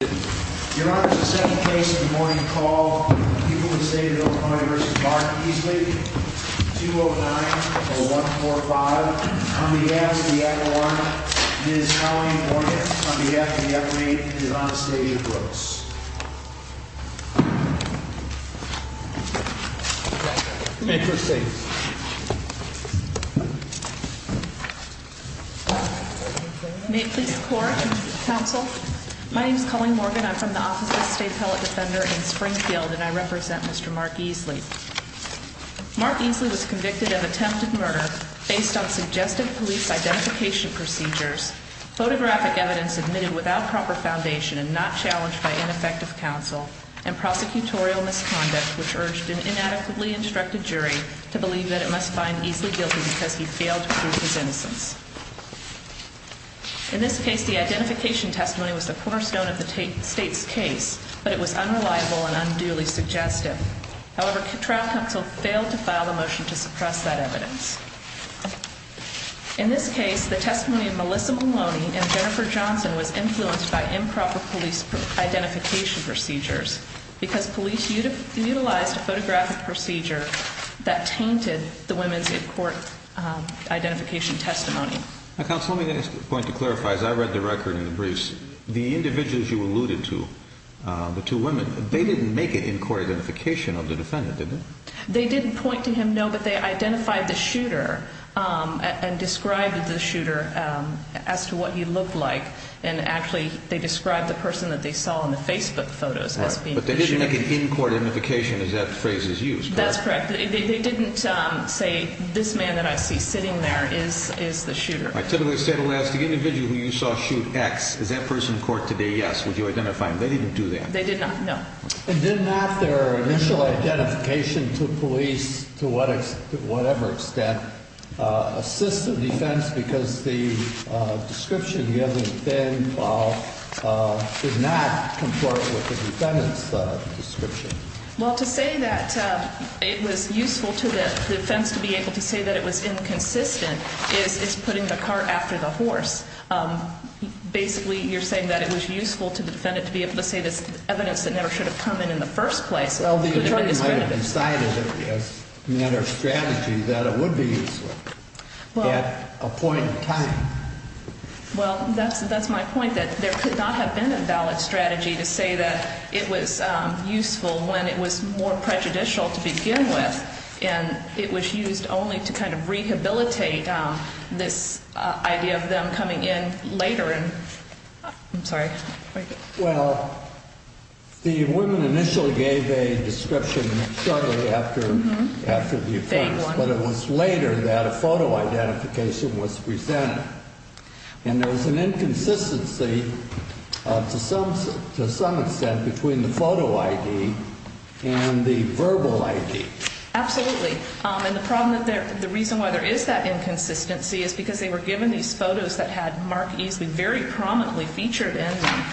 Your Honor, the second case of the morning call, people who stayed at Oklahoma v. Barney v. Easley, 209-0145. On behalf of the Admiral, Ms. Colleen Morgan. On behalf of the Attorney, Ms. Anastasia Brooks. May it please the Court. Your Honor, counsel, my name is Colleen Morgan. I'm from the Office of State Pellet Defender in Springfield, and I represent Mr. Mark Easley. Mark Easley was convicted of attempted murder based on suggested police identification procedures, photographic evidence admitted without proper foundation and not challenged by ineffective counsel, and prosecutorial misconduct which urged an inadequately instructed jury to believe that it must find Easley guilty because he failed to prove his innocence. In this case, the identification testimony was the cornerstone of the state's case, but it was unreliable and unduly suggestive. However, trial counsel failed to file a motion to suppress that evidence. In this case, the testimony of Melissa Maloney and Jennifer Johnson was influenced by improper police identification procedures because police utilized a photographic procedure that tainted the women's in-court identification testimony. Counsel, let me just point to clarify, as I read the record in the briefs, the individuals you alluded to, the two women, they didn't make an in-court identification of the defendant, did they? They didn't point to him, no, but they identified the shooter and described the shooter as to what he looked like, and actually they described the person that they saw in the Facebook photos as being the shooter. But they didn't make an in-court identification, as that phrase is used, correct? That's correct. They didn't say, this man that I see sitting there is the shooter. All right, typically the state will ask the individual who you saw shoot X, is that person in court today, yes, would you identify him? They didn't do that. They did not, no. And did not their initial identification to police to whatever extent assist the defense because the description, the evidence then did not conform with the defendant's description? Well, to say that it was useful to the defense to be able to say that it was inconsistent is putting the cart after the horse. Basically, you're saying that it was useful to the defendant to be able to say this evidence that never should have come in in the first place. Well, the attorney might have decided as a matter of strategy that it would be useful. At a point in time. Well, that's my point, that there could not have been a valid strategy to say that it was useful when it was more prejudicial to begin with. And it was used only to kind of rehabilitate this idea of them coming in later. I'm sorry. Well, the woman initially gave a description shortly after the offense, but it was later that a photo identification was presented. And there was an inconsistency to some extent between the photo ID and the verbal ID. Absolutely. And the reason why there is that inconsistency is because they were given these photos that had Mark Easley very prominently featured in them.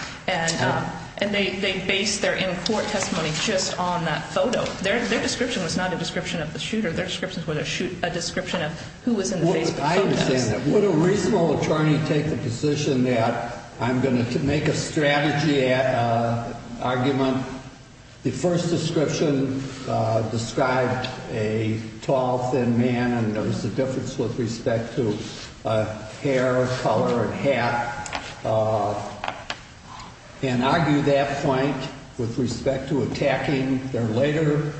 And they based their in-court testimony just on that photo. Their description was not a description of the shooter. Their description was a description of who was in the Facebook photos. I understand that. Would a reasonable attorney take the position that I'm going to make a strategy argument? The first description described a tall, thin man. And there was a difference with respect to hair, color, and hat. And argue that point with respect to attacking their later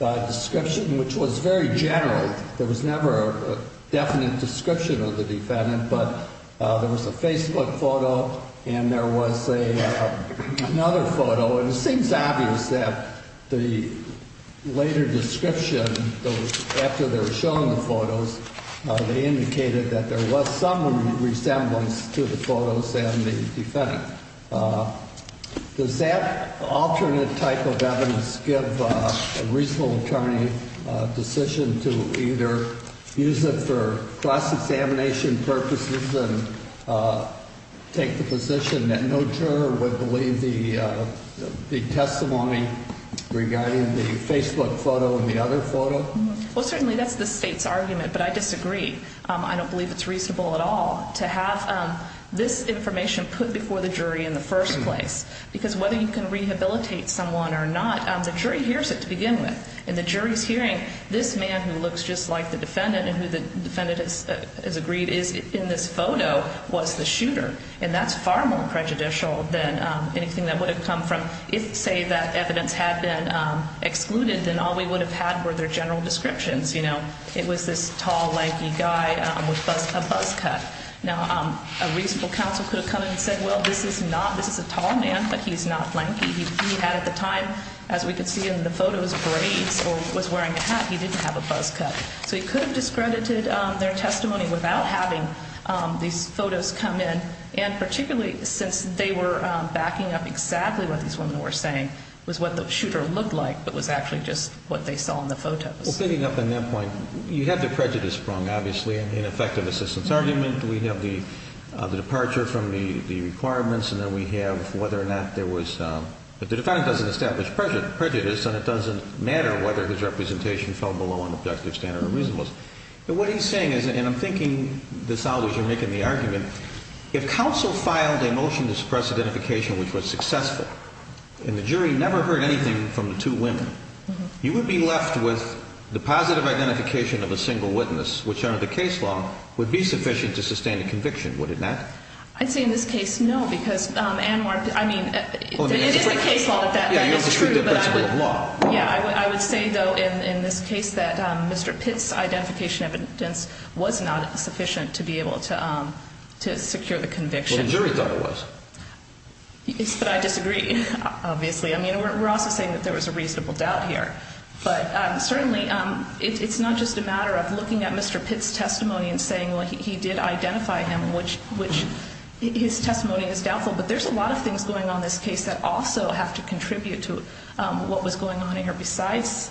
description, which was very general. There was never a definite description of the defendant. But there was a Facebook photo. And there was another photo. And it seems obvious that the later description, after they were shown the photos, they indicated that there was some resemblance to the photos and the defendant. Does that alternate type of evidence give a reasonable attorney a decision to either use it for cross-examination purposes and take the position that no juror would believe the testimony regarding the Facebook photo and the other photo? Well, certainly that's the state's argument. But I disagree. I don't believe it's reasonable at all to have this information put before the jury in the first place. Because whether you can rehabilitate someone or not, the jury hears it to begin with. And the jury's hearing this man who looks just like the defendant and who the defendant has agreed is in this photo was the shooter. And that's far more prejudicial than anything that would have come from if, say, that evidence had been excluded, then all we would have had were their general descriptions. It was this tall, lanky guy with a buzz cut. Now, a reasonable counsel could have come in and said, well, this is a tall man, but he's not lanky. He had at the time, as we could see in the photos, braids or was wearing a hat. He didn't have a buzz cut. So he could have discredited their testimony without having these photos come in. And particularly since they were backing up exactly what these women were saying was what the shooter looked like but was actually just what they saw in the photos. Well, fitting up on that point, you have the prejudice sprung, obviously, in effective assistance argument. We have the departure from the requirements. And then we have whether or not there was – the defendant doesn't establish prejudice and it doesn't matter whether his representation fell below an objective standard or reasonableness. But what he's saying is – and I'm thinking this out as you're making the argument – if counsel filed a motion to suppress identification which was successful and the jury never heard anything from the two women, you would be left with the positive identification of a single witness, which under the case law would be sufficient to sustain a conviction, would it not? I'd say in this case, no, because Anwar – I mean, it is the case law that that is true. Yeah, I would say, though, in this case that Mr. Pitt's identification evidence was not sufficient to be able to secure the conviction. Well, the jury thought it was. Yes, but I disagree, obviously. I mean, we're also saying that there was a reasonable doubt here. But certainly, it's not just a matter of looking at Mr. Pitt's testimony and saying, well, he did identify him, which – his testimony is doubtful. But there's a lot of things going on in this case that also have to contribute to what was going on here besides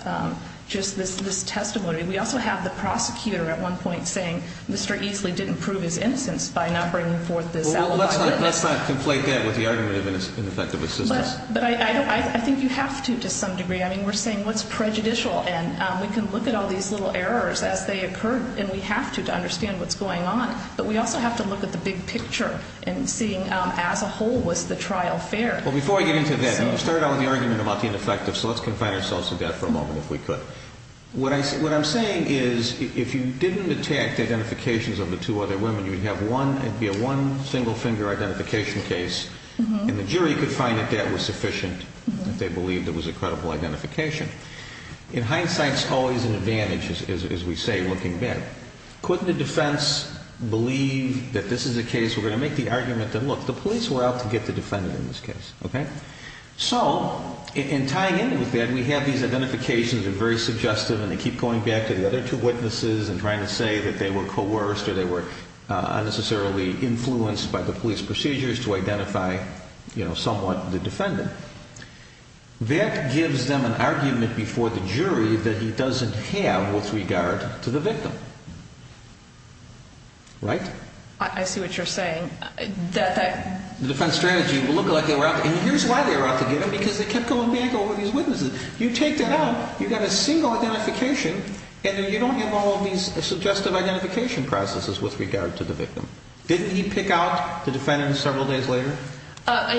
just this testimony. We also have the prosecutor at one point saying Mr. Easley didn't prove his innocence by not bringing forth this alibi. Well, let's not conflate that with the argument of ineffective assistance. But I think you have to to some degree. I mean, we're saying what's prejudicial? And we can look at all these little errors as they occur, and we have to, to understand what's going on. But we also have to look at the big picture and seeing as a whole, was the trial fair? Well, before I get into that, you started out with the argument about the ineffective, so let's confine ourselves to that for a moment if we could. What I'm saying is if you didn't detect identifications of the two other women, you would have one – it would be a one single-finger identification case. And the jury could find that that was sufficient if they believed it was a credible identification. In hindsight, it's always an advantage, as we say, looking back. Couldn't the defense believe that this is a case – we're going to make the argument that, look, the police were out to get the defendant in this case. Okay? So in tying in with that, we have these identifications that are very suggestive, and they keep going back to the other two witnesses and trying to say that they were coerced or they were unnecessarily influenced by the police procedures to identify somewhat the defendant. That gives them an argument before the jury that he doesn't have with regard to the victim. Right? I see what you're saying. The defense strategy will look like they were out – and here's why they were out to get him, because they kept going back over these witnesses. You take that out, you've got a single identification, and then you don't have all of these suggestive identification processes with regard to the victim. Didn't he pick out the defendant several days later?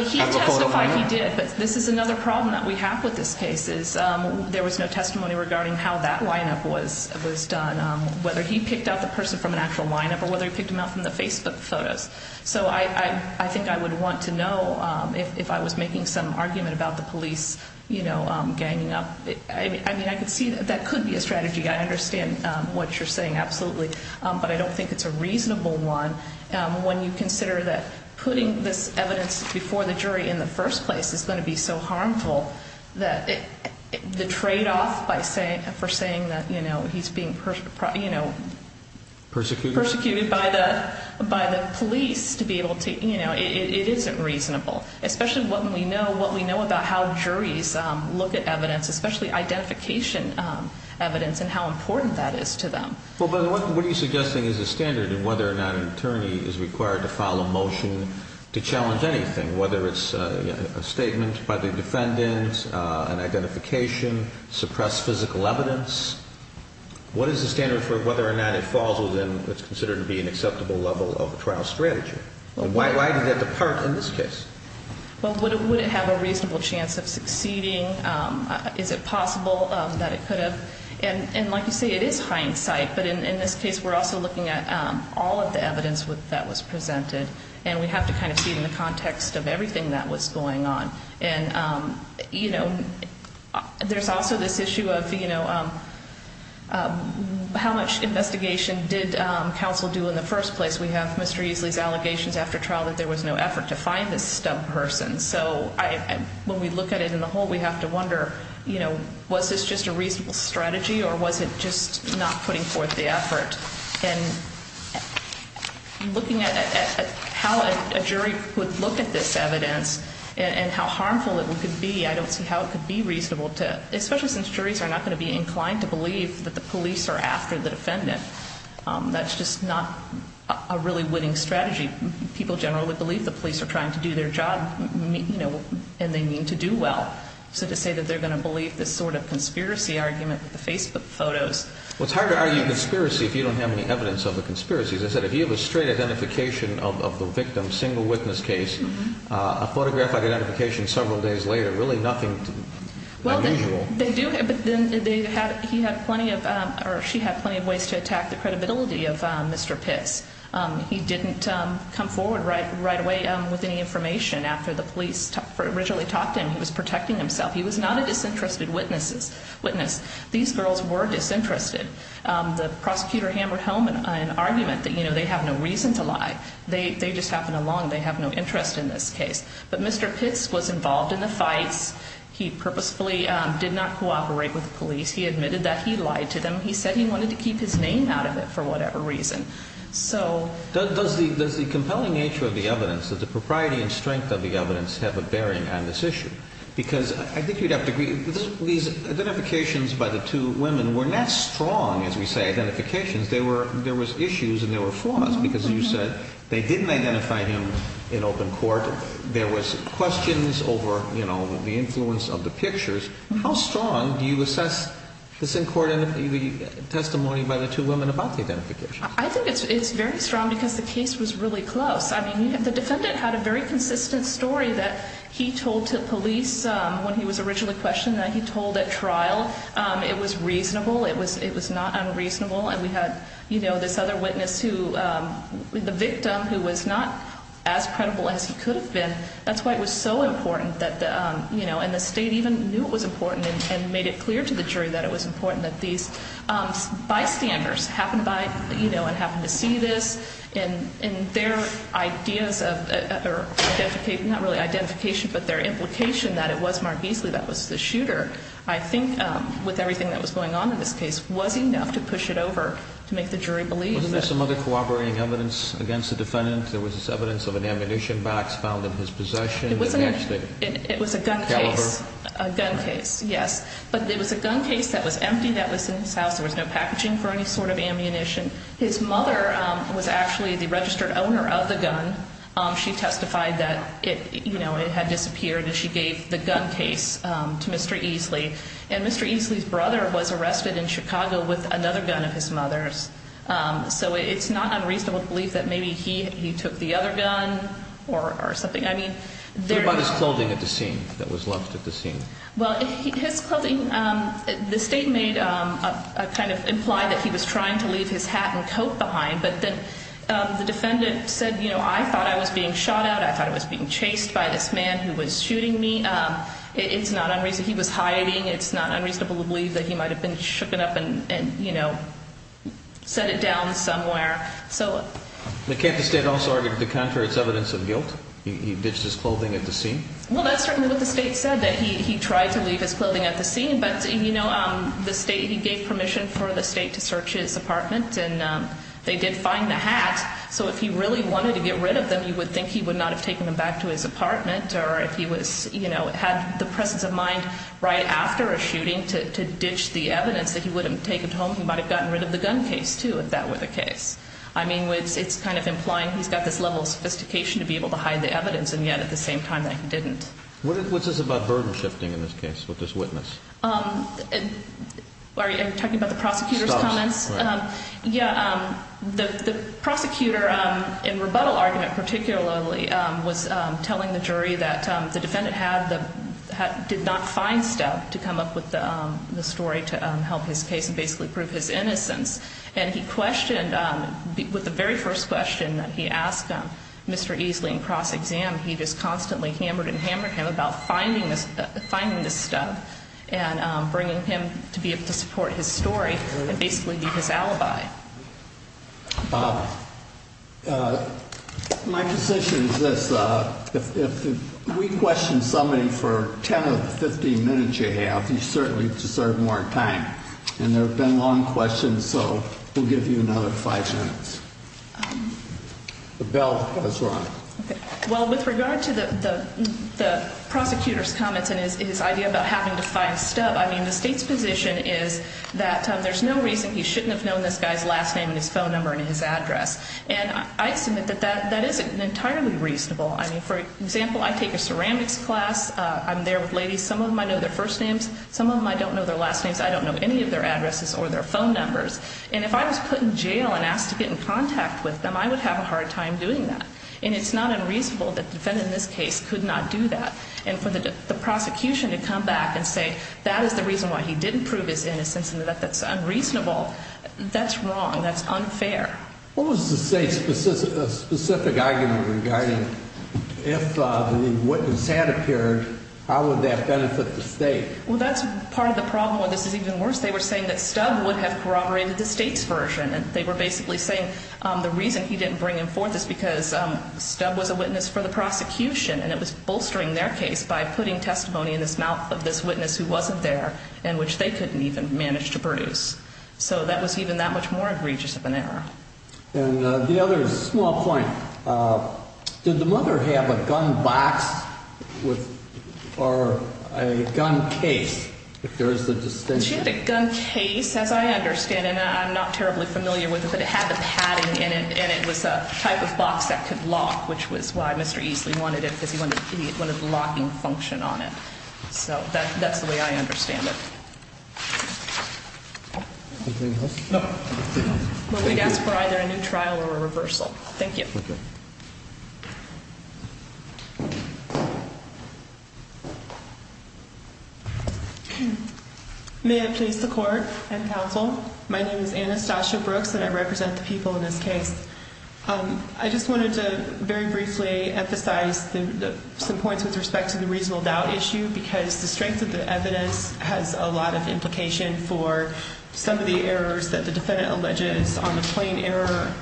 He testified he did, but this is another problem that we have with this case is there was no testimony regarding how that lineup was done, whether he picked out the person from an actual lineup or whether he picked them out from the Facebook photos. So I think I would want to know if I was making some argument about the police, you know, ganging up. I mean, I could see that that could be a strategy. I understand what you're saying, absolutely, but I don't think it's a reasonable one when you consider that putting this evidence before the jury in the first place is going to be so harmful. The tradeoff for saying that, you know, he's being persecuted by the police to be able to – you know, it isn't reasonable, especially what we know about how juries look at evidence, especially identification evidence and how important that is to them. Well, but what are you suggesting is the standard in whether or not an attorney is required to file a motion to challenge anything, whether it's a statement by the defendant, an identification, suppressed physical evidence? What is the standard for whether or not it falls within what's considered to be an acceptable level of a trial strategy? Why did that depart in this case? Well, would it have a reasonable chance of succeeding? Is it possible that it could have? And like you say, it is hindsight, but in this case we're also looking at all of the evidence that was presented, and we have to kind of see it in the context of everything that was going on. And, you know, there's also this issue of, you know, how much investigation did counsel do in the first place? We have Mr. Easley's allegations after trial that there was no effort to find this stub person. And so when we look at it in the whole, we have to wonder, you know, was this just a reasonable strategy or was it just not putting forth the effort? And looking at how a jury would look at this evidence and how harmful it could be, I don't see how it could be reasonable to, especially since juries are not going to be inclined to believe that the police are after the defendant. That's just not a really winning strategy. People generally believe the police are trying to do their job, you know, and they mean to do well. So to say that they're going to believe this sort of conspiracy argument with the Facebook photos. Well, it's hard to argue conspiracy if you don't have any evidence of a conspiracy. As I said, if you have a straight identification of the victim, single witness case, a photographic identification several days later, really nothing unusual. Well, they do, but then he had plenty of, or she had plenty of ways to attack the credibility of Mr. Pitts. He didn't come forward right away with any information after the police originally talked to him. He was protecting himself. He was not a disinterested witness. These girls were disinterested. The prosecutor hammered home an argument that, you know, they have no reason to lie. They just happened along. They have no interest in this case. But Mr. Pitts was involved in the fights. He purposefully did not cooperate with the police. He admitted that he lied to them. He said he wanted to keep his name out of it for whatever reason. Does the compelling nature of the evidence, the propriety and strength of the evidence, have a bearing on this issue? Because I think you'd have to agree, these identifications by the two women were not strong, as we say, identifications. There were issues and there were flaws because you said they didn't identify him in open court. There was questions over, you know, the influence of the pictures. How strong do you assess this in court testimony by the two women about the identification? I think it's very strong because the case was really close. I mean, the defendant had a very consistent story that he told to police when he was originally questioned that he told at trial. It was reasonable. It was not unreasonable. And we had, you know, this other witness who, the victim, who was not as credible as he could have been. That's why it was so important that, you know, and the state even knew it was important and made it clear to the jury that it was important that these bystanders happen by, you know, and happen to see this. And their ideas of identification, not really identification, but their implication that it was Mark Beasley that was the shooter, I think, with everything that was going on in this case, was enough to push it over to make the jury believe. Wasn't there some other corroborating evidence against the defendant? There was evidence of an ammunition box found in his possession. It was a gun case. A gun case, yes. But it was a gun case that was empty that was in his house. There was no packaging for any sort of ammunition. His mother was actually the registered owner of the gun. She testified that it, you know, it had disappeared, and she gave the gun case to Mr. Easley. And Mr. Easley's brother was arrested in Chicago with another gun of his mother's. So it's not unreasonable to believe that maybe he took the other gun or something. I mean, there... What about his clothing at the scene that was left at the scene? Well, his clothing, the state made a kind of imply that he was trying to leave his hat and coat behind, but then the defendant said, you know, I thought I was being shot at. I thought I was being chased by this man who was shooting me. It's not unreasonable. He was hiding. It's not unreasonable to believe that he might have been shooken up and, you know, set it down somewhere. So... But can't the state also argue that the contrary is evidence of guilt? He ditched his clothing at the scene? Well, that's certainly what the state said, that he tried to leave his clothing at the scene. But, you know, the state, he gave permission for the state to search his apartment, and they did find the hat. So if he really wanted to get rid of them, you would think he would not have taken them back to his apartment. Or if he was, you know, had the presence of mind right after a shooting to ditch the evidence that he would have taken home, he might have gotten rid of the gun case, too, if that were the case. I mean, it's kind of implying he's got this level of sophistication to be able to hide the evidence, and yet at the same time that he didn't. What's this about burden shifting in this case with this witness? Are you talking about the prosecutor's comments? Yeah. The prosecutor in rebuttal argument particularly was telling the jury that the defendant did not find stuff to come up with the story to help his case and basically prove his innocence. And he questioned, with the very first question that he asked Mr. Easley in cross-exam, he just constantly hammered and hammered him about finding this stuff and bringing him to be able to support his story and basically be his alibi. Bob, my position is this. If we question somebody for 10 or 15 minutes you have, you certainly deserve more time. And there have been long questions, so we'll give you another five minutes. The bell has rung. Well, with regard to the prosecutor's comments and his idea about having to find stuff, I mean, the state's position is that there's no reason he shouldn't have known this guy's last name and his phone number and his address. And I submit that that isn't entirely reasonable. I mean, for example, I take a ceramics class. I'm there with ladies. Some of them I know their first names. Some of them I don't know their last names. I don't know any of their addresses or their phone numbers. And if I was put in jail and asked to get in contact with them, I would have a hard time doing that. And it's not unreasonable that the defendant in this case could not do that. And for the prosecution to come back and say that is the reason why he didn't prove his innocence and that that's unreasonable, that's wrong. That's unfair. What was the state's specific argument regarding if the witness had appeared, how would that benefit the state? Well, that's part of the problem, and this is even worse. They were saying that Stubb would have corroborated the state's version. And they were basically saying the reason he didn't bring him forth is because Stubb was a witness for the prosecution, and it was bolstering their case by putting testimony in the mouth of this witness who wasn't there and which they couldn't even manage to produce. So that was even that much more egregious of an error. And the other small point, did the mother have a gun box or a gun case, if there is a distinction? She had a gun case, as I understand. And I'm not terribly familiar with it, but it had the padding in it, and it was a type of box that could lock, which was why Mr. Easley wanted it because he wanted the locking function on it. So that's the way I understand it. Anything else? No. Well, we'd ask for either a new trial or a reversal. Thank you. Okay. May I please support and counsel? My name is Anastasia Brooks, and I represent the people in this case. I just wanted to very briefly emphasize some points with respect to the reasonable doubt issue because the strength of the evidence has a lot of implication for some of the errors that the defendant alleges on the plain error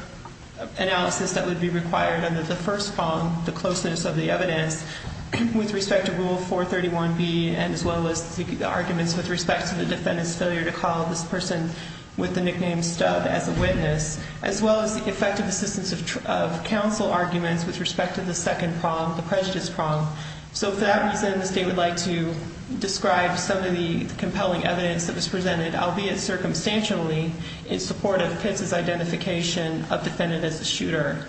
analysis that would be required under the first prong, the closeness of the evidence with respect to Rule 431B, as well as the arguments with respect to the defendant's failure to call this person with the nickname Stubb as a witness, as well as the effective assistance of counsel arguments with respect to the second prong, the prejudice prong. So for that reason, the state would like to describe some of the compelling evidence that was presented, albeit circumstantially, in support of Pitts' identification of the defendant as a shooter.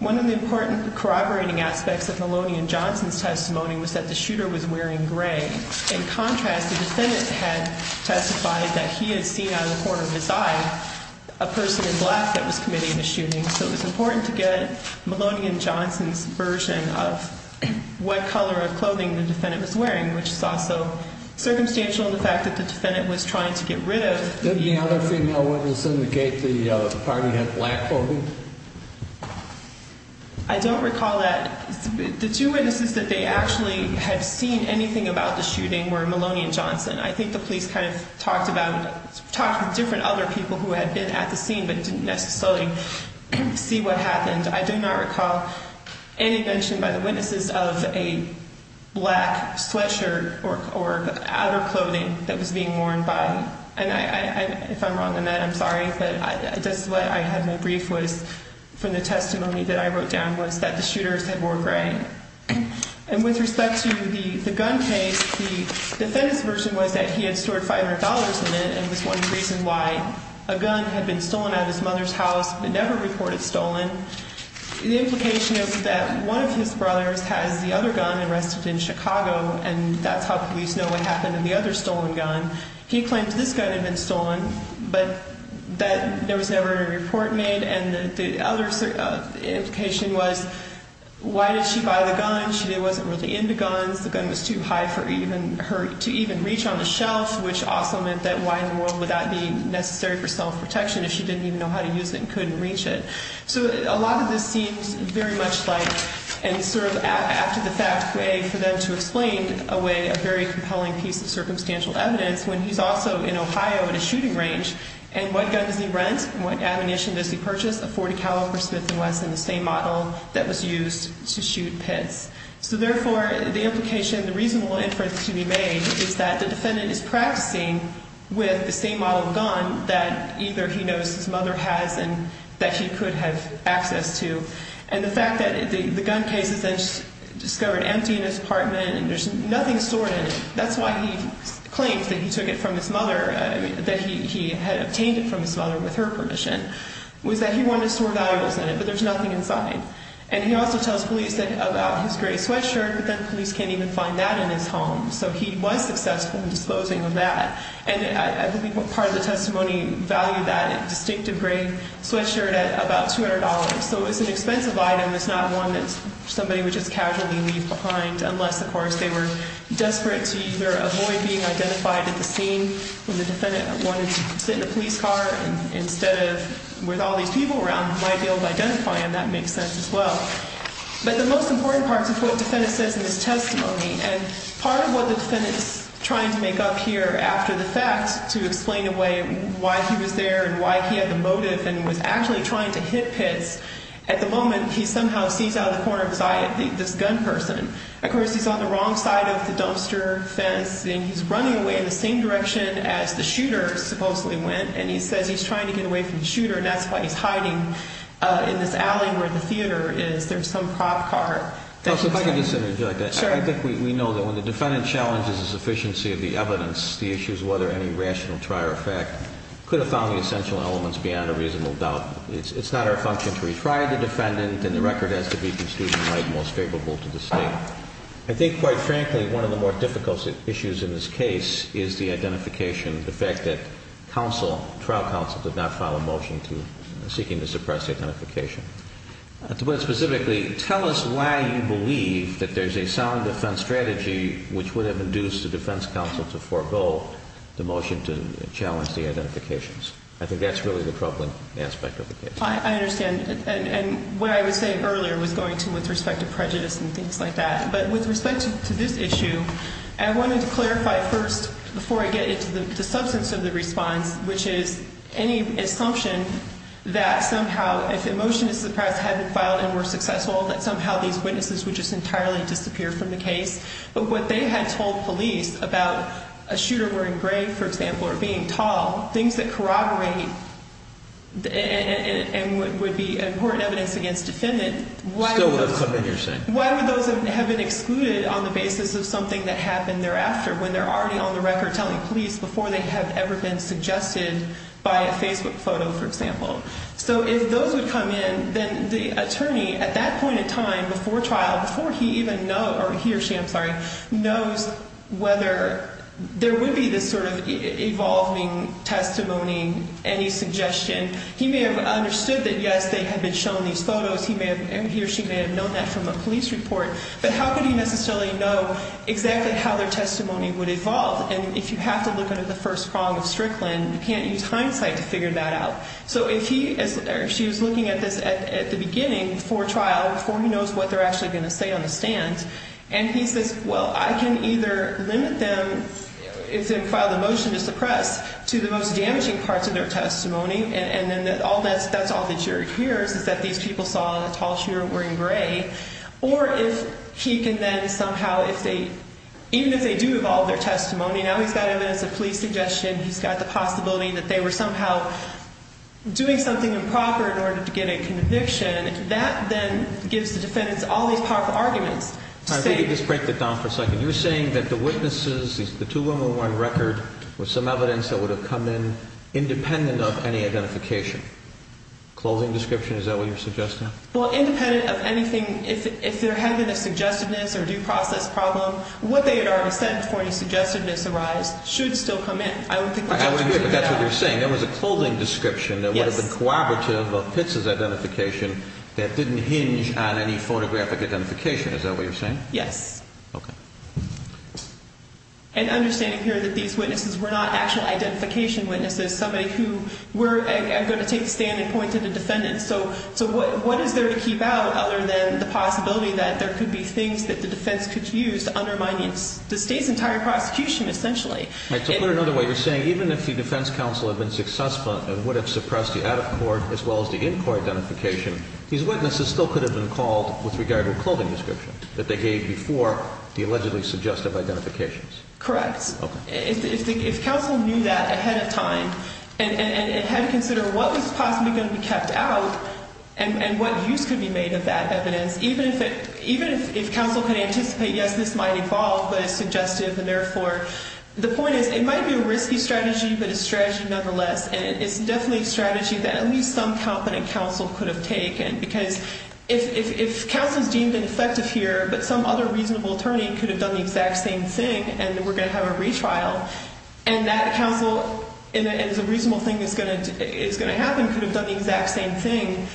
One of the important corroborating aspects of Maloney and Johnson's testimony was that the shooter was wearing gray. In contrast, the defendant had testified that he had seen out of the corner of his eye a person in black that was committing a shooting, so it was important to get Maloney and Johnson's version of what color of clothing the defendant was wearing, which is also circumstantial in the fact that the defendant was trying to get rid of the- Didn't the other female witness indicate the party had black clothing? I don't recall that. The two witnesses that they actually had seen anything about the shooting were Maloney and Johnson. I think the police kind of talked about-talked with different other people who had been at the scene but didn't necessarily see what happened. I do not recall any mention by the witnesses of a black sweatshirt or outer clothing that was being worn by- And if I'm wrong on that, I'm sorry, but just what I had in my brief was, from the testimony that I wrote down, was that the shooters had wore gray. And with respect to the gun case, the defendant's version was that he had stored $500 in it and was one reason why a gun had been stolen out of his mother's house. It never reported stolen. The implication is that one of his brothers has the other gun arrested in Chicago, and that's how police know what happened in the other stolen gun. He claims this gun had been stolen, but there was never a report made. And the other implication was, why did she buy the gun? She wasn't really into guns. The gun was too high for her to even reach on the shelf, which also meant that why in the world would that be necessary for self-protection if she didn't even know how to use it and couldn't reach it? So a lot of this seems very much like an after-the-fact way for them to explain away a very compelling piece of circumstantial evidence when he's also in Ohio in a shooting range. And what gun does he rent and what ammunition does he purchase? A .40 caliber Smith & Wesson, the same model that was used to shoot pits. So therefore, the implication, the reasonable inference to be made is that the defendant is practicing with the same model of gun that either he knows his mother has and that he could have access to. And the fact that the gun case is then discovered empty in his apartment and there's nothing stored in it, that's why he claims that he took it from his mother, that he had obtained it from his mother with her permission, was that he wanted to store valuables in it, but there's nothing inside. And he also tells police about his gray sweatshirt, but then police can't even find that in his home. So he was successful in disposing of that. And I believe part of the testimony valued that distinctive gray sweatshirt at about $200. So it's an expensive item. It's not one that somebody would just casually leave behind unless, of course, they were desperate to either avoid being identified at the scene when the defendant wanted to sit in a police car instead of with all these people around who might be able to identify him. That makes sense as well. But the most important part is what the defendant says in his testimony. And part of what the defendant is trying to make up here after the fact to explain away why he was there and why he had the motive and was actually trying to hit Pitts, at the moment he somehow sees out of the corner of his eye this gun person. Of course, he's on the wrong side of the dumpster fence, and he's running away in the same direction as the shooter supposedly went. And he says he's trying to get away from the shooter, and that's why he's hiding in this alley where the theater is. There's some cop car. If I could just interject. Sure. I think we know that when the defendant challenges the sufficiency of the evidence, the issue is whether any rational try or effect could have found the essential elements beyond a reasonable doubt. It's not our function to retry the defendant, and the record has to be construed by the most favorable to the state. I think, quite frankly, one of the more difficult issues in this case is the identification of the fact that trial counsel did not file a motion seeking to suppress the identification. To put it specifically, tell us why you believe that there's a sound defense strategy which would have induced the defense counsel to forego the motion to challenge the identifications. I think that's really the troubling aspect of the case. I understand. And what I was saying earlier was going to with respect to prejudice and things like that. But with respect to this issue, I wanted to clarify first, before I get into the substance of the response, which is any assumption that somehow if the motion to suppress hadn't filed and were successful, that somehow these witnesses would just entirely disappear from the case. But what they had told police about a shooter wearing gray, for example, or being tall, things that corroborate and would be important evidence against defendant, why would those have been excluded on the basis of something that happened thereafter when they're already on the record telling police before they have ever been suggested by a Facebook photo, for example. So if those would come in, then the attorney at that point in time before trial, before he even knows, or he or she, I'm sorry, knows whether there would be this sort of evolving testimony, any suggestion. He may have understood that, yes, they had been shown these photos. He or she may have known that from a police report. But how could he necessarily know exactly how their testimony would evolve? And if you have to look under the first prong of Strickland, you can't use hindsight to figure that out. So if he or she was looking at this at the beginning before trial, before he knows what they're actually going to say on the stand, and he says, well, I can either limit them, if they file the motion to suppress, to the most damaging parts of their testimony. And then that's all the jury hears, is that these people saw the tall shooter wearing gray. Or if he can then somehow, even if they do evolve their testimony, now he's got evidence of police suggestion. He's got the possibility that they were somehow doing something improper in order to get a conviction. That then gives the defendants all these powerful arguments. I think you just break it down for a second. You're saying that the witnesses, the 2-101 record was some evidence that would have come in independent of any identification. Clothing description, is that what you're suggesting? Well, independent of anything. If they're having a suggestedness or due process problem, what they had already said before any suggestedness arise should still come in. I would think that's true. But that's what you're saying. There was a clothing description that would have been cooperative of Pitts' identification that didn't hinge on any photographic identification. Is that what you're saying? Yes. Okay. And understanding here that these witnesses were not actual identification witnesses, somebody who were going to take the stand and point to the defendant. So what is there to keep out other than the possibility that there could be things that the defense could use to undermine the state's entire prosecution, essentially? To put it another way, you're saying even if the defense counsel had been successful and would have suppressed the out-of-court as well as the in-court identification, these witnesses still could have been called with regard to a clothing description that they gave before the allegedly suggestive identifications? Correct. Okay. If counsel knew that ahead of time and had to consider what was possibly going to be kept out and what use could be made of that evidence, even if counsel could anticipate, yes, this might evolve, but it's suggestive, and therefore. The point is, it might be a risky strategy, but it's a strategy nonetheless. And it's definitely a strategy that at least some competent counsel could have taken. Because if counsel is deemed ineffective here, but some other reasonable attorney could have done the exact same thing, and we're going to have a retrial, and that counsel and the reasonable thing that's going to happen could have done the exact same thing,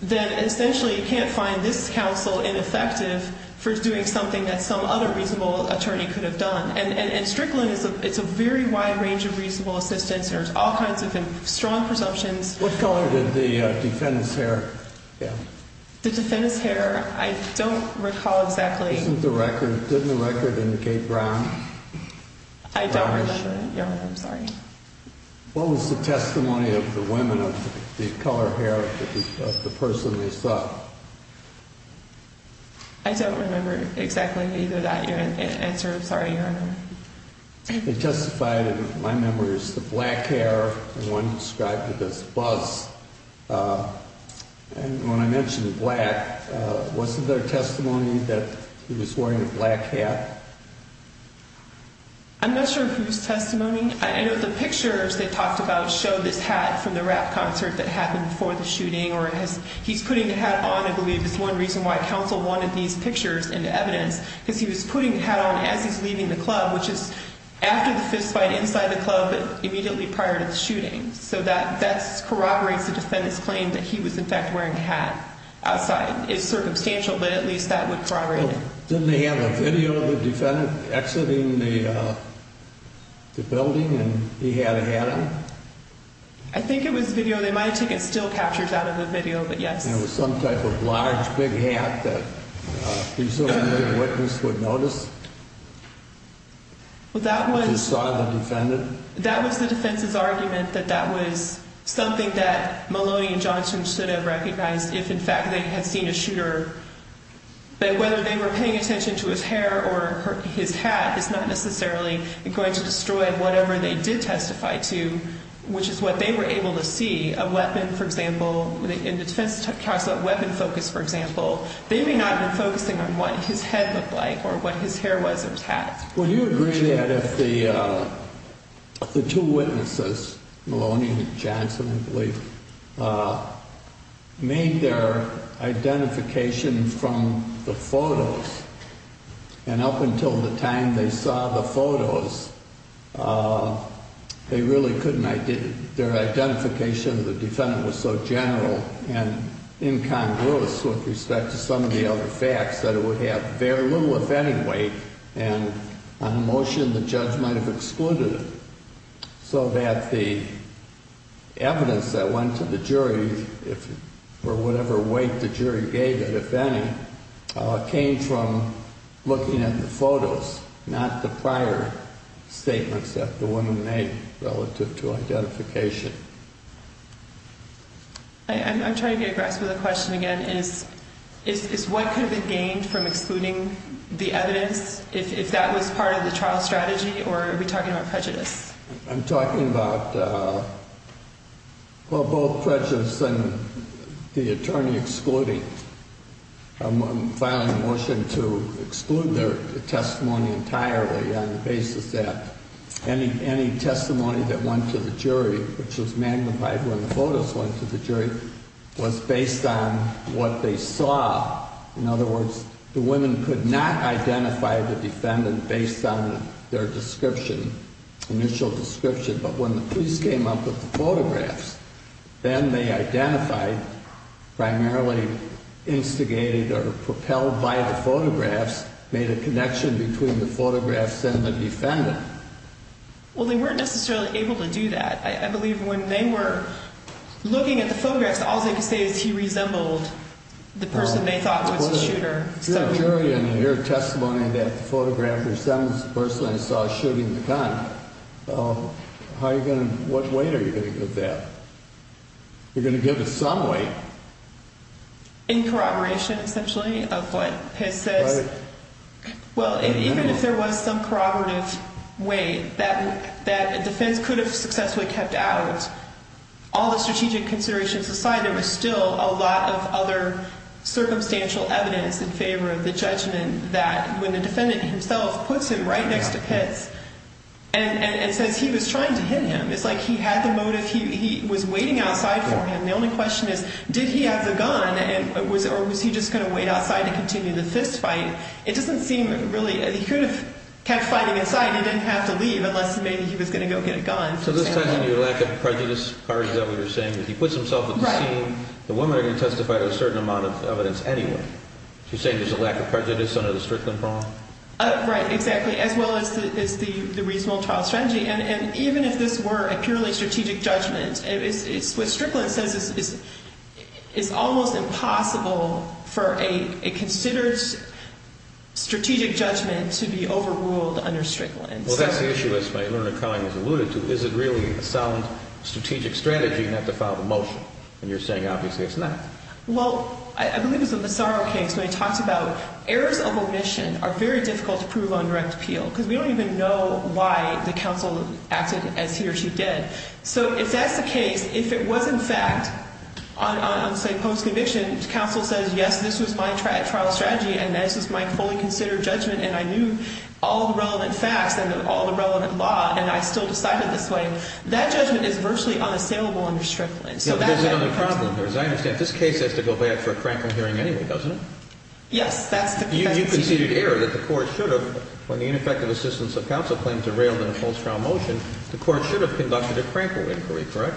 then essentially you can't find this counsel ineffective for doing something that some other reasonable attorney could have done. And Strickland, it's a very wide range of reasonable assistants. There's all kinds of strong presumptions. What color did the defendant's hair get? The defendant's hair, I don't recall exactly. Isn't the record, didn't the record indicate brown? I don't remember, Your Honor. I'm sorry. What was the testimony of the women of the color hair of the person they saw? I don't remember exactly either that, Your Honor. Answer, I'm sorry, Your Honor. It testified, in my memory, it was the black hair, the one described with this buzz. And when I mentioned black, wasn't there testimony that he was wearing a black hat? I'm not sure whose testimony. I know the pictures they talked about show this hat from the rap concert that happened before the shooting, or he's putting the hat on, I believe, is one reason why counsel wanted these pictures and evidence, because he was putting the hat on as he's leaving the club, which is after the fistfight, inside the club, but immediately prior to the shooting. So that corroborates the defendant's claim that he was, in fact, wearing a hat outside. It's circumstantial, but at least that would corroborate it. Didn't they have a video of the defendant exiting the building and he had a hat on? I think it was video. They might have taken still captures out of the video, but yes. And it was some type of large, big hat that presumably a witness would notice? If he saw the defendant? That was the defense's argument, that that was something that Maloney and Johnson should have recognized if, in fact, they had seen a shooter. But whether they were paying attention to his hair or his hat is not necessarily going to destroy whatever they did testify to, which is what they were able to see. A weapon, for example, the defense talks about weapon focus, for example. They may not have been focusing on what his head looked like or what his hair was or his hat. Would you agree that if the two witnesses, Maloney and Johnson, I believe, made their identification from the photos, and up until the time they saw the photos, they really couldn't, their identification of the defendant was so general and incongruous with respect to some of the other facts that it would have very little, if any weight, and on motion the judge might have excluded it, so that the evidence that went to the jury, or whatever weight the jury gave it, if any, came from looking at the photos, not the prior statements that the woman made relative to identification. I'm trying to get a grasp of the question again. Is what could have been gained from excluding the evidence, if that was part of the trial strategy, or are we talking about prejudice? I'm talking about both prejudice and the attorney excluding. I'm filing a motion to exclude their testimony entirely on the basis that any testimony that went to the jury, which was magnified when the photos went to the jury, was based on what they saw. In other words, the women could not identify the defendant based on their description, initial description, but when the police came up with the photographs, then they identified, primarily instigated or propelled by the photographs, made a connection between the photographs and the defendant. Well, they weren't necessarily able to do that. I believe when they were looking at the photographs, all they could say is he resembled the person they thought was the shooter. If you're a jury and you hear testimony that the photograph resembles the person I saw shooting the gun, how are you going to, what weight are you going to give that? You're going to give it some weight. In corroboration, essentially, of what Pitts says. Well, even if there was some corroborative weight that the defense could have successfully kept out, all the strategic considerations aside, there was still a lot of other circumstantial evidence in favor of the judgment that when the defendant himself puts him right next to Pitts and says he was trying to hit him, it's like he had the motive, he was waiting outside for him. The only question is, did he have the gun or was he just going to wait outside to continue the fist fight? It doesn't seem really, he could have kept fighting inside and didn't have to leave unless maybe he was going to go get a gun. So this ties into your lack of prejudice part, is that what you're saying? He puts himself at the scene, the women are going to testify to a certain amount of evidence anyway. So you're saying there's a lack of prejudice under the Strickland Promise? Right, exactly, as well as the reasonable trial strategy. And even if this were a purely strategic judgment, what Strickland says is it's almost impossible for a considered strategic judgment to be overruled under Strickland. Well, that's the issue, as Eleanor Cohen has alluded to. Is it really a sound strategic strategy not to file the motion? And you're saying obviously it's not. Well, I believe it's in the Sorrow case when he talks about errors of omission are very difficult to prove on direct appeal because we don't even know why the counsel acted as he or she did. So if that's the case, if it was in fact on say post-conviction, counsel says yes, this was my trial strategy and this was my fully considered judgment and I knew all the relevant facts and all the relevant law and I still decided this way, that judgment is virtually unassailable under Strickland. There's another problem here. As I understand, this case has to go back for a crankle hearing anyway, doesn't it? Yes. You conceded error that the court should have. When the ineffective assistance of counsel claims are railed in a post-trial motion, the court should have conducted a crankle inquiry, correct?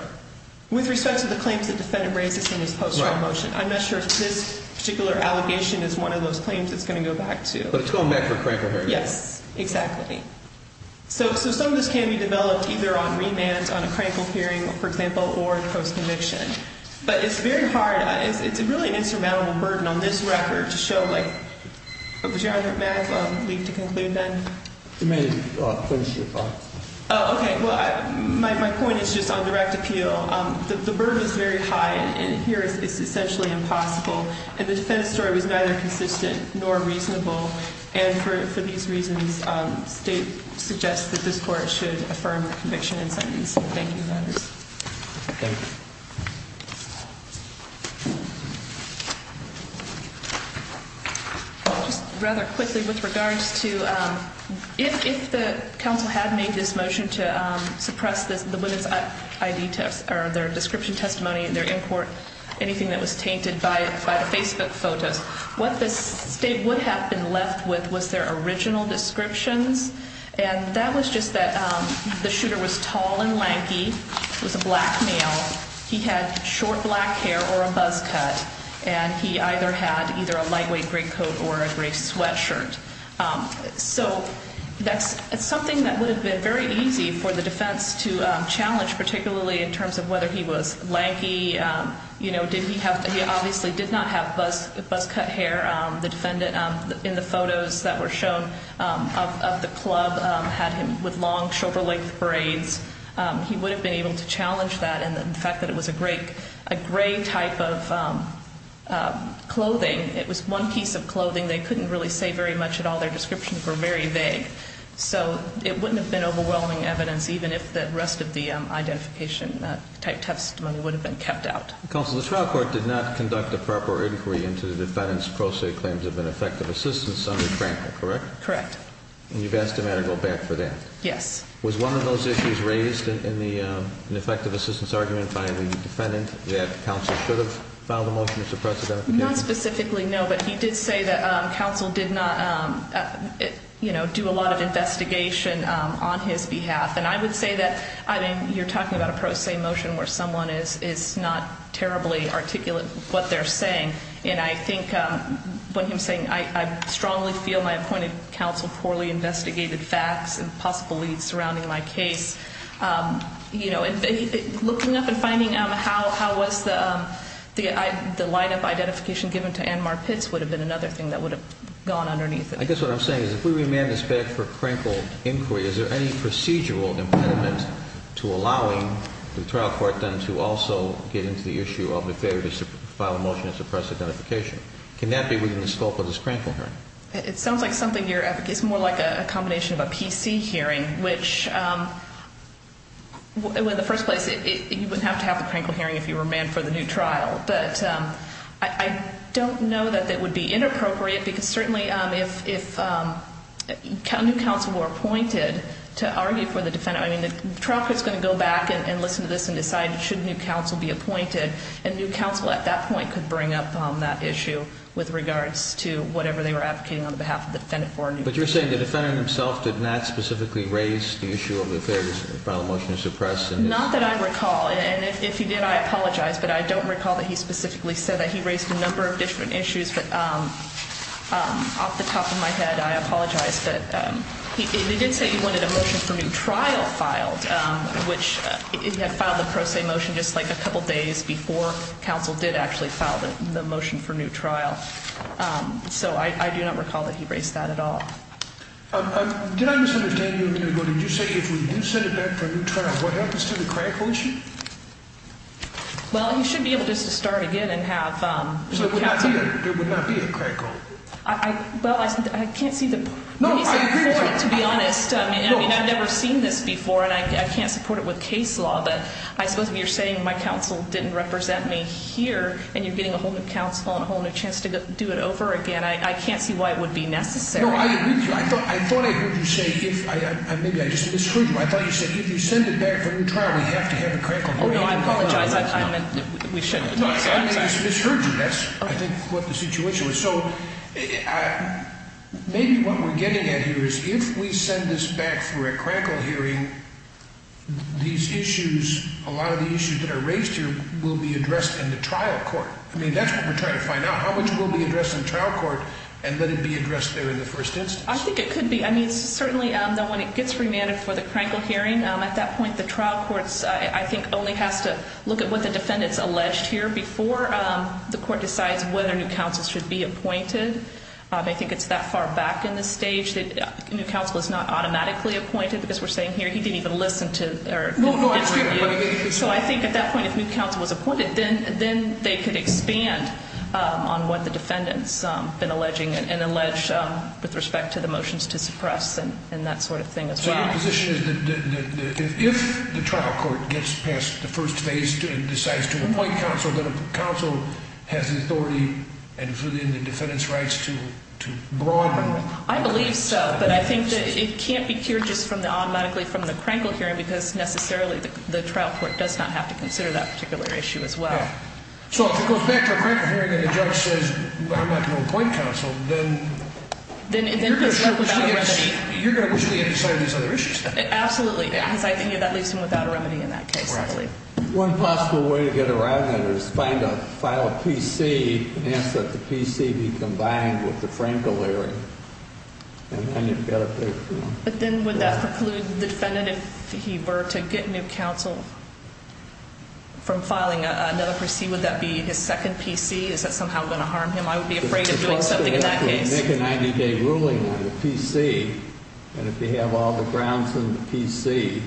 With respect to the claims the defendant raises in this post-trial motion, I'm not sure if this particular allegation is one of those claims it's going to go back to. But it's going back for a crankle hearing. Yes, exactly. So some of this can be developed either on remand, on a crankle hearing, for example, or post-conviction. But it's very hard. It's really an insurmountable burden on this record to show, like, would you mind if I leave to conclude then? You may finish your thought. Oh, okay. Well, my point is just on direct appeal. The burden is very high and here it's essentially impossible. And the defendant's story was neither consistent nor reasonable. And for these reasons, state suggests that this court should affirm the conviction and sentence. Thank you. Thank you. Just rather quickly with regards to if the counsel had made this motion to suppress the women's ID test or their description testimony, their import, anything that was tainted by the Facebook photos, what the state would have been left with was their original descriptions. And that was just that the shooter was tall and lanky, was a black male. He had short black hair or a buzz cut. And he either had either a lightweight gray coat or a gray sweatshirt. So that's something that would have been very easy for the defense to challenge, particularly in terms of whether he was lanky. He obviously did not have buzz cut hair. The defendant in the photos that were shown of the club had him with long shoulder length braids. He would have been able to challenge that. And the fact that it was a gray type of clothing, it was one piece of clothing, they couldn't really say very much at all. Their descriptions were very vague. So it wouldn't have been overwhelming evidence, even if the rest of the identification type testimony would have been kept out. Counsel, the trial court did not conduct a proper inquiry into the defendant's pro se claims of ineffective assistance under Cranker, correct? Correct. And you've asked him to go back for that? Yes. Was one of those issues raised in the ineffective assistance argument by the defendant that counsel should have filed a motion to suppress identification? Not specifically, no. But he did say that counsel did not do a lot of investigation on his behalf. And I would say that, I mean, you're talking about a pro se motion where someone is not terribly articulate with what they're saying. And I think when he was saying, I strongly feel my appointed counsel poorly investigated facts and possible leads surrounding my case, looking up and finding how was the line of identification given to Anmar Pitts would have been another thing that would have gone underneath it. I guess what I'm saying is if we remand this back for Cranker inquiry, is there any procedural impediment to allowing the trial court then to also get into the issue of the failure to file a motion to suppress identification? Can that be within the scope of this Cranker hearing? It sounds like something you're advocating. It's more like a combination of a PC hearing, which in the first place you wouldn't have to have the Cranker hearing if you remanded for the new trial. But I don't know that that would be inappropriate because certainly if new counsel were appointed to argue for the defendant, I mean, the trial court is going to go back and listen to this and decide should new counsel be appointed. And new counsel at that point could bring up that issue with regards to whatever they were advocating on behalf of the defendant. But you're saying the defendant himself did not specifically raise the issue of the failure to file a motion to suppress? Not that I recall. And if he did, I apologize. But I don't recall that he specifically said that. He raised a number of different issues. But off the top of my head, I apologize. But he did say he wanted a motion for new trial filed, which he had filed a pro se motion just like a couple days before counsel did actually file the motion for new trial. So I do not recall that he raised that at all. Did I misunderstand you a minute ago? Did you say if we do send it back for a new trial, what happens to the Cranker issue? Well, he should be able just to start again and have new counsel. So there would not be a Cranker? Well, I can't see the point, to be honest. I mean, I've never seen this before, and I can't support it with case law. But I suppose if you're saying my counsel didn't represent me here and you're getting a whole new counsel and a whole new chance to do it over again, I can't see why it would be necessary. No, I agree with you. I thought I heard you say, maybe I just misheard you. I thought you said if you send it back for a new trial, we have to have a Cranker. Oh, no, I apologize. We shouldn't have said that. I think I just misheard you. That's, I think, what the situation was. So maybe what we're getting at here is if we send this back for a Cranker hearing, these issues, a lot of the issues that are raised here will be addressed in the trial court. I mean, that's what we're trying to find out. How much will be addressed in the trial court and let it be addressed there in the first instance? I think it could be. I mean, certainly when it gets remanded for the Cranker hearing, at that point, I think only has to look at what the defendant's alleged here before the court decides whether new counsel should be appointed. I think it's that far back in the stage that new counsel is not automatically appointed, because we're saying here he didn't even listen to or contribute. So I think at that point, if new counsel was appointed, then they could expand on what the defendant's been alleging and allege with respect to the motions to suppress and that sort of thing as well. So your position is that if the trial court gets past the first phase and decides to appoint counsel, then counsel has the authority and the defendant's rights to broaden. I believe so, but I think that it can't be cured just automatically from the Cranker hearing because necessarily the trial court does not have to consider that particular issue as well. So if it goes back to a Cranker hearing and the judge says, I'm not going to appoint counsel, then you're going to wishly undecide these other issues then? Absolutely, because I think that leaves him without a remedy in that case. One possible way to get around that is find a file of PC and ask that the PC be combined with the Cranker hearing. But then would that preclude the defendant if he were to get new counsel from filing another PC? Would that be his second PC? Is that somehow going to harm him? I would be afraid of doing something in that case. If we make a 90-day ruling on the PC and if we have all the grounds in the PC,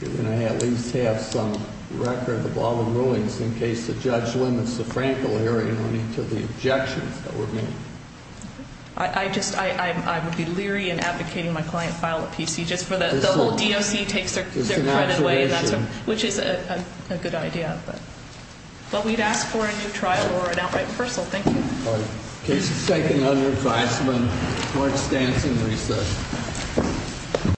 we're going to at least have some record of all the rulings in case the judge limits the Cranker hearing on each of the objections that we're making. I would be leery in advocating my client file a PC just for the whole DOC takes their credit away, which is a good idea. But we'd ask for a new trial or an outright reversal. Thank you. All right. Case is taken under advisement. Court stands in recess.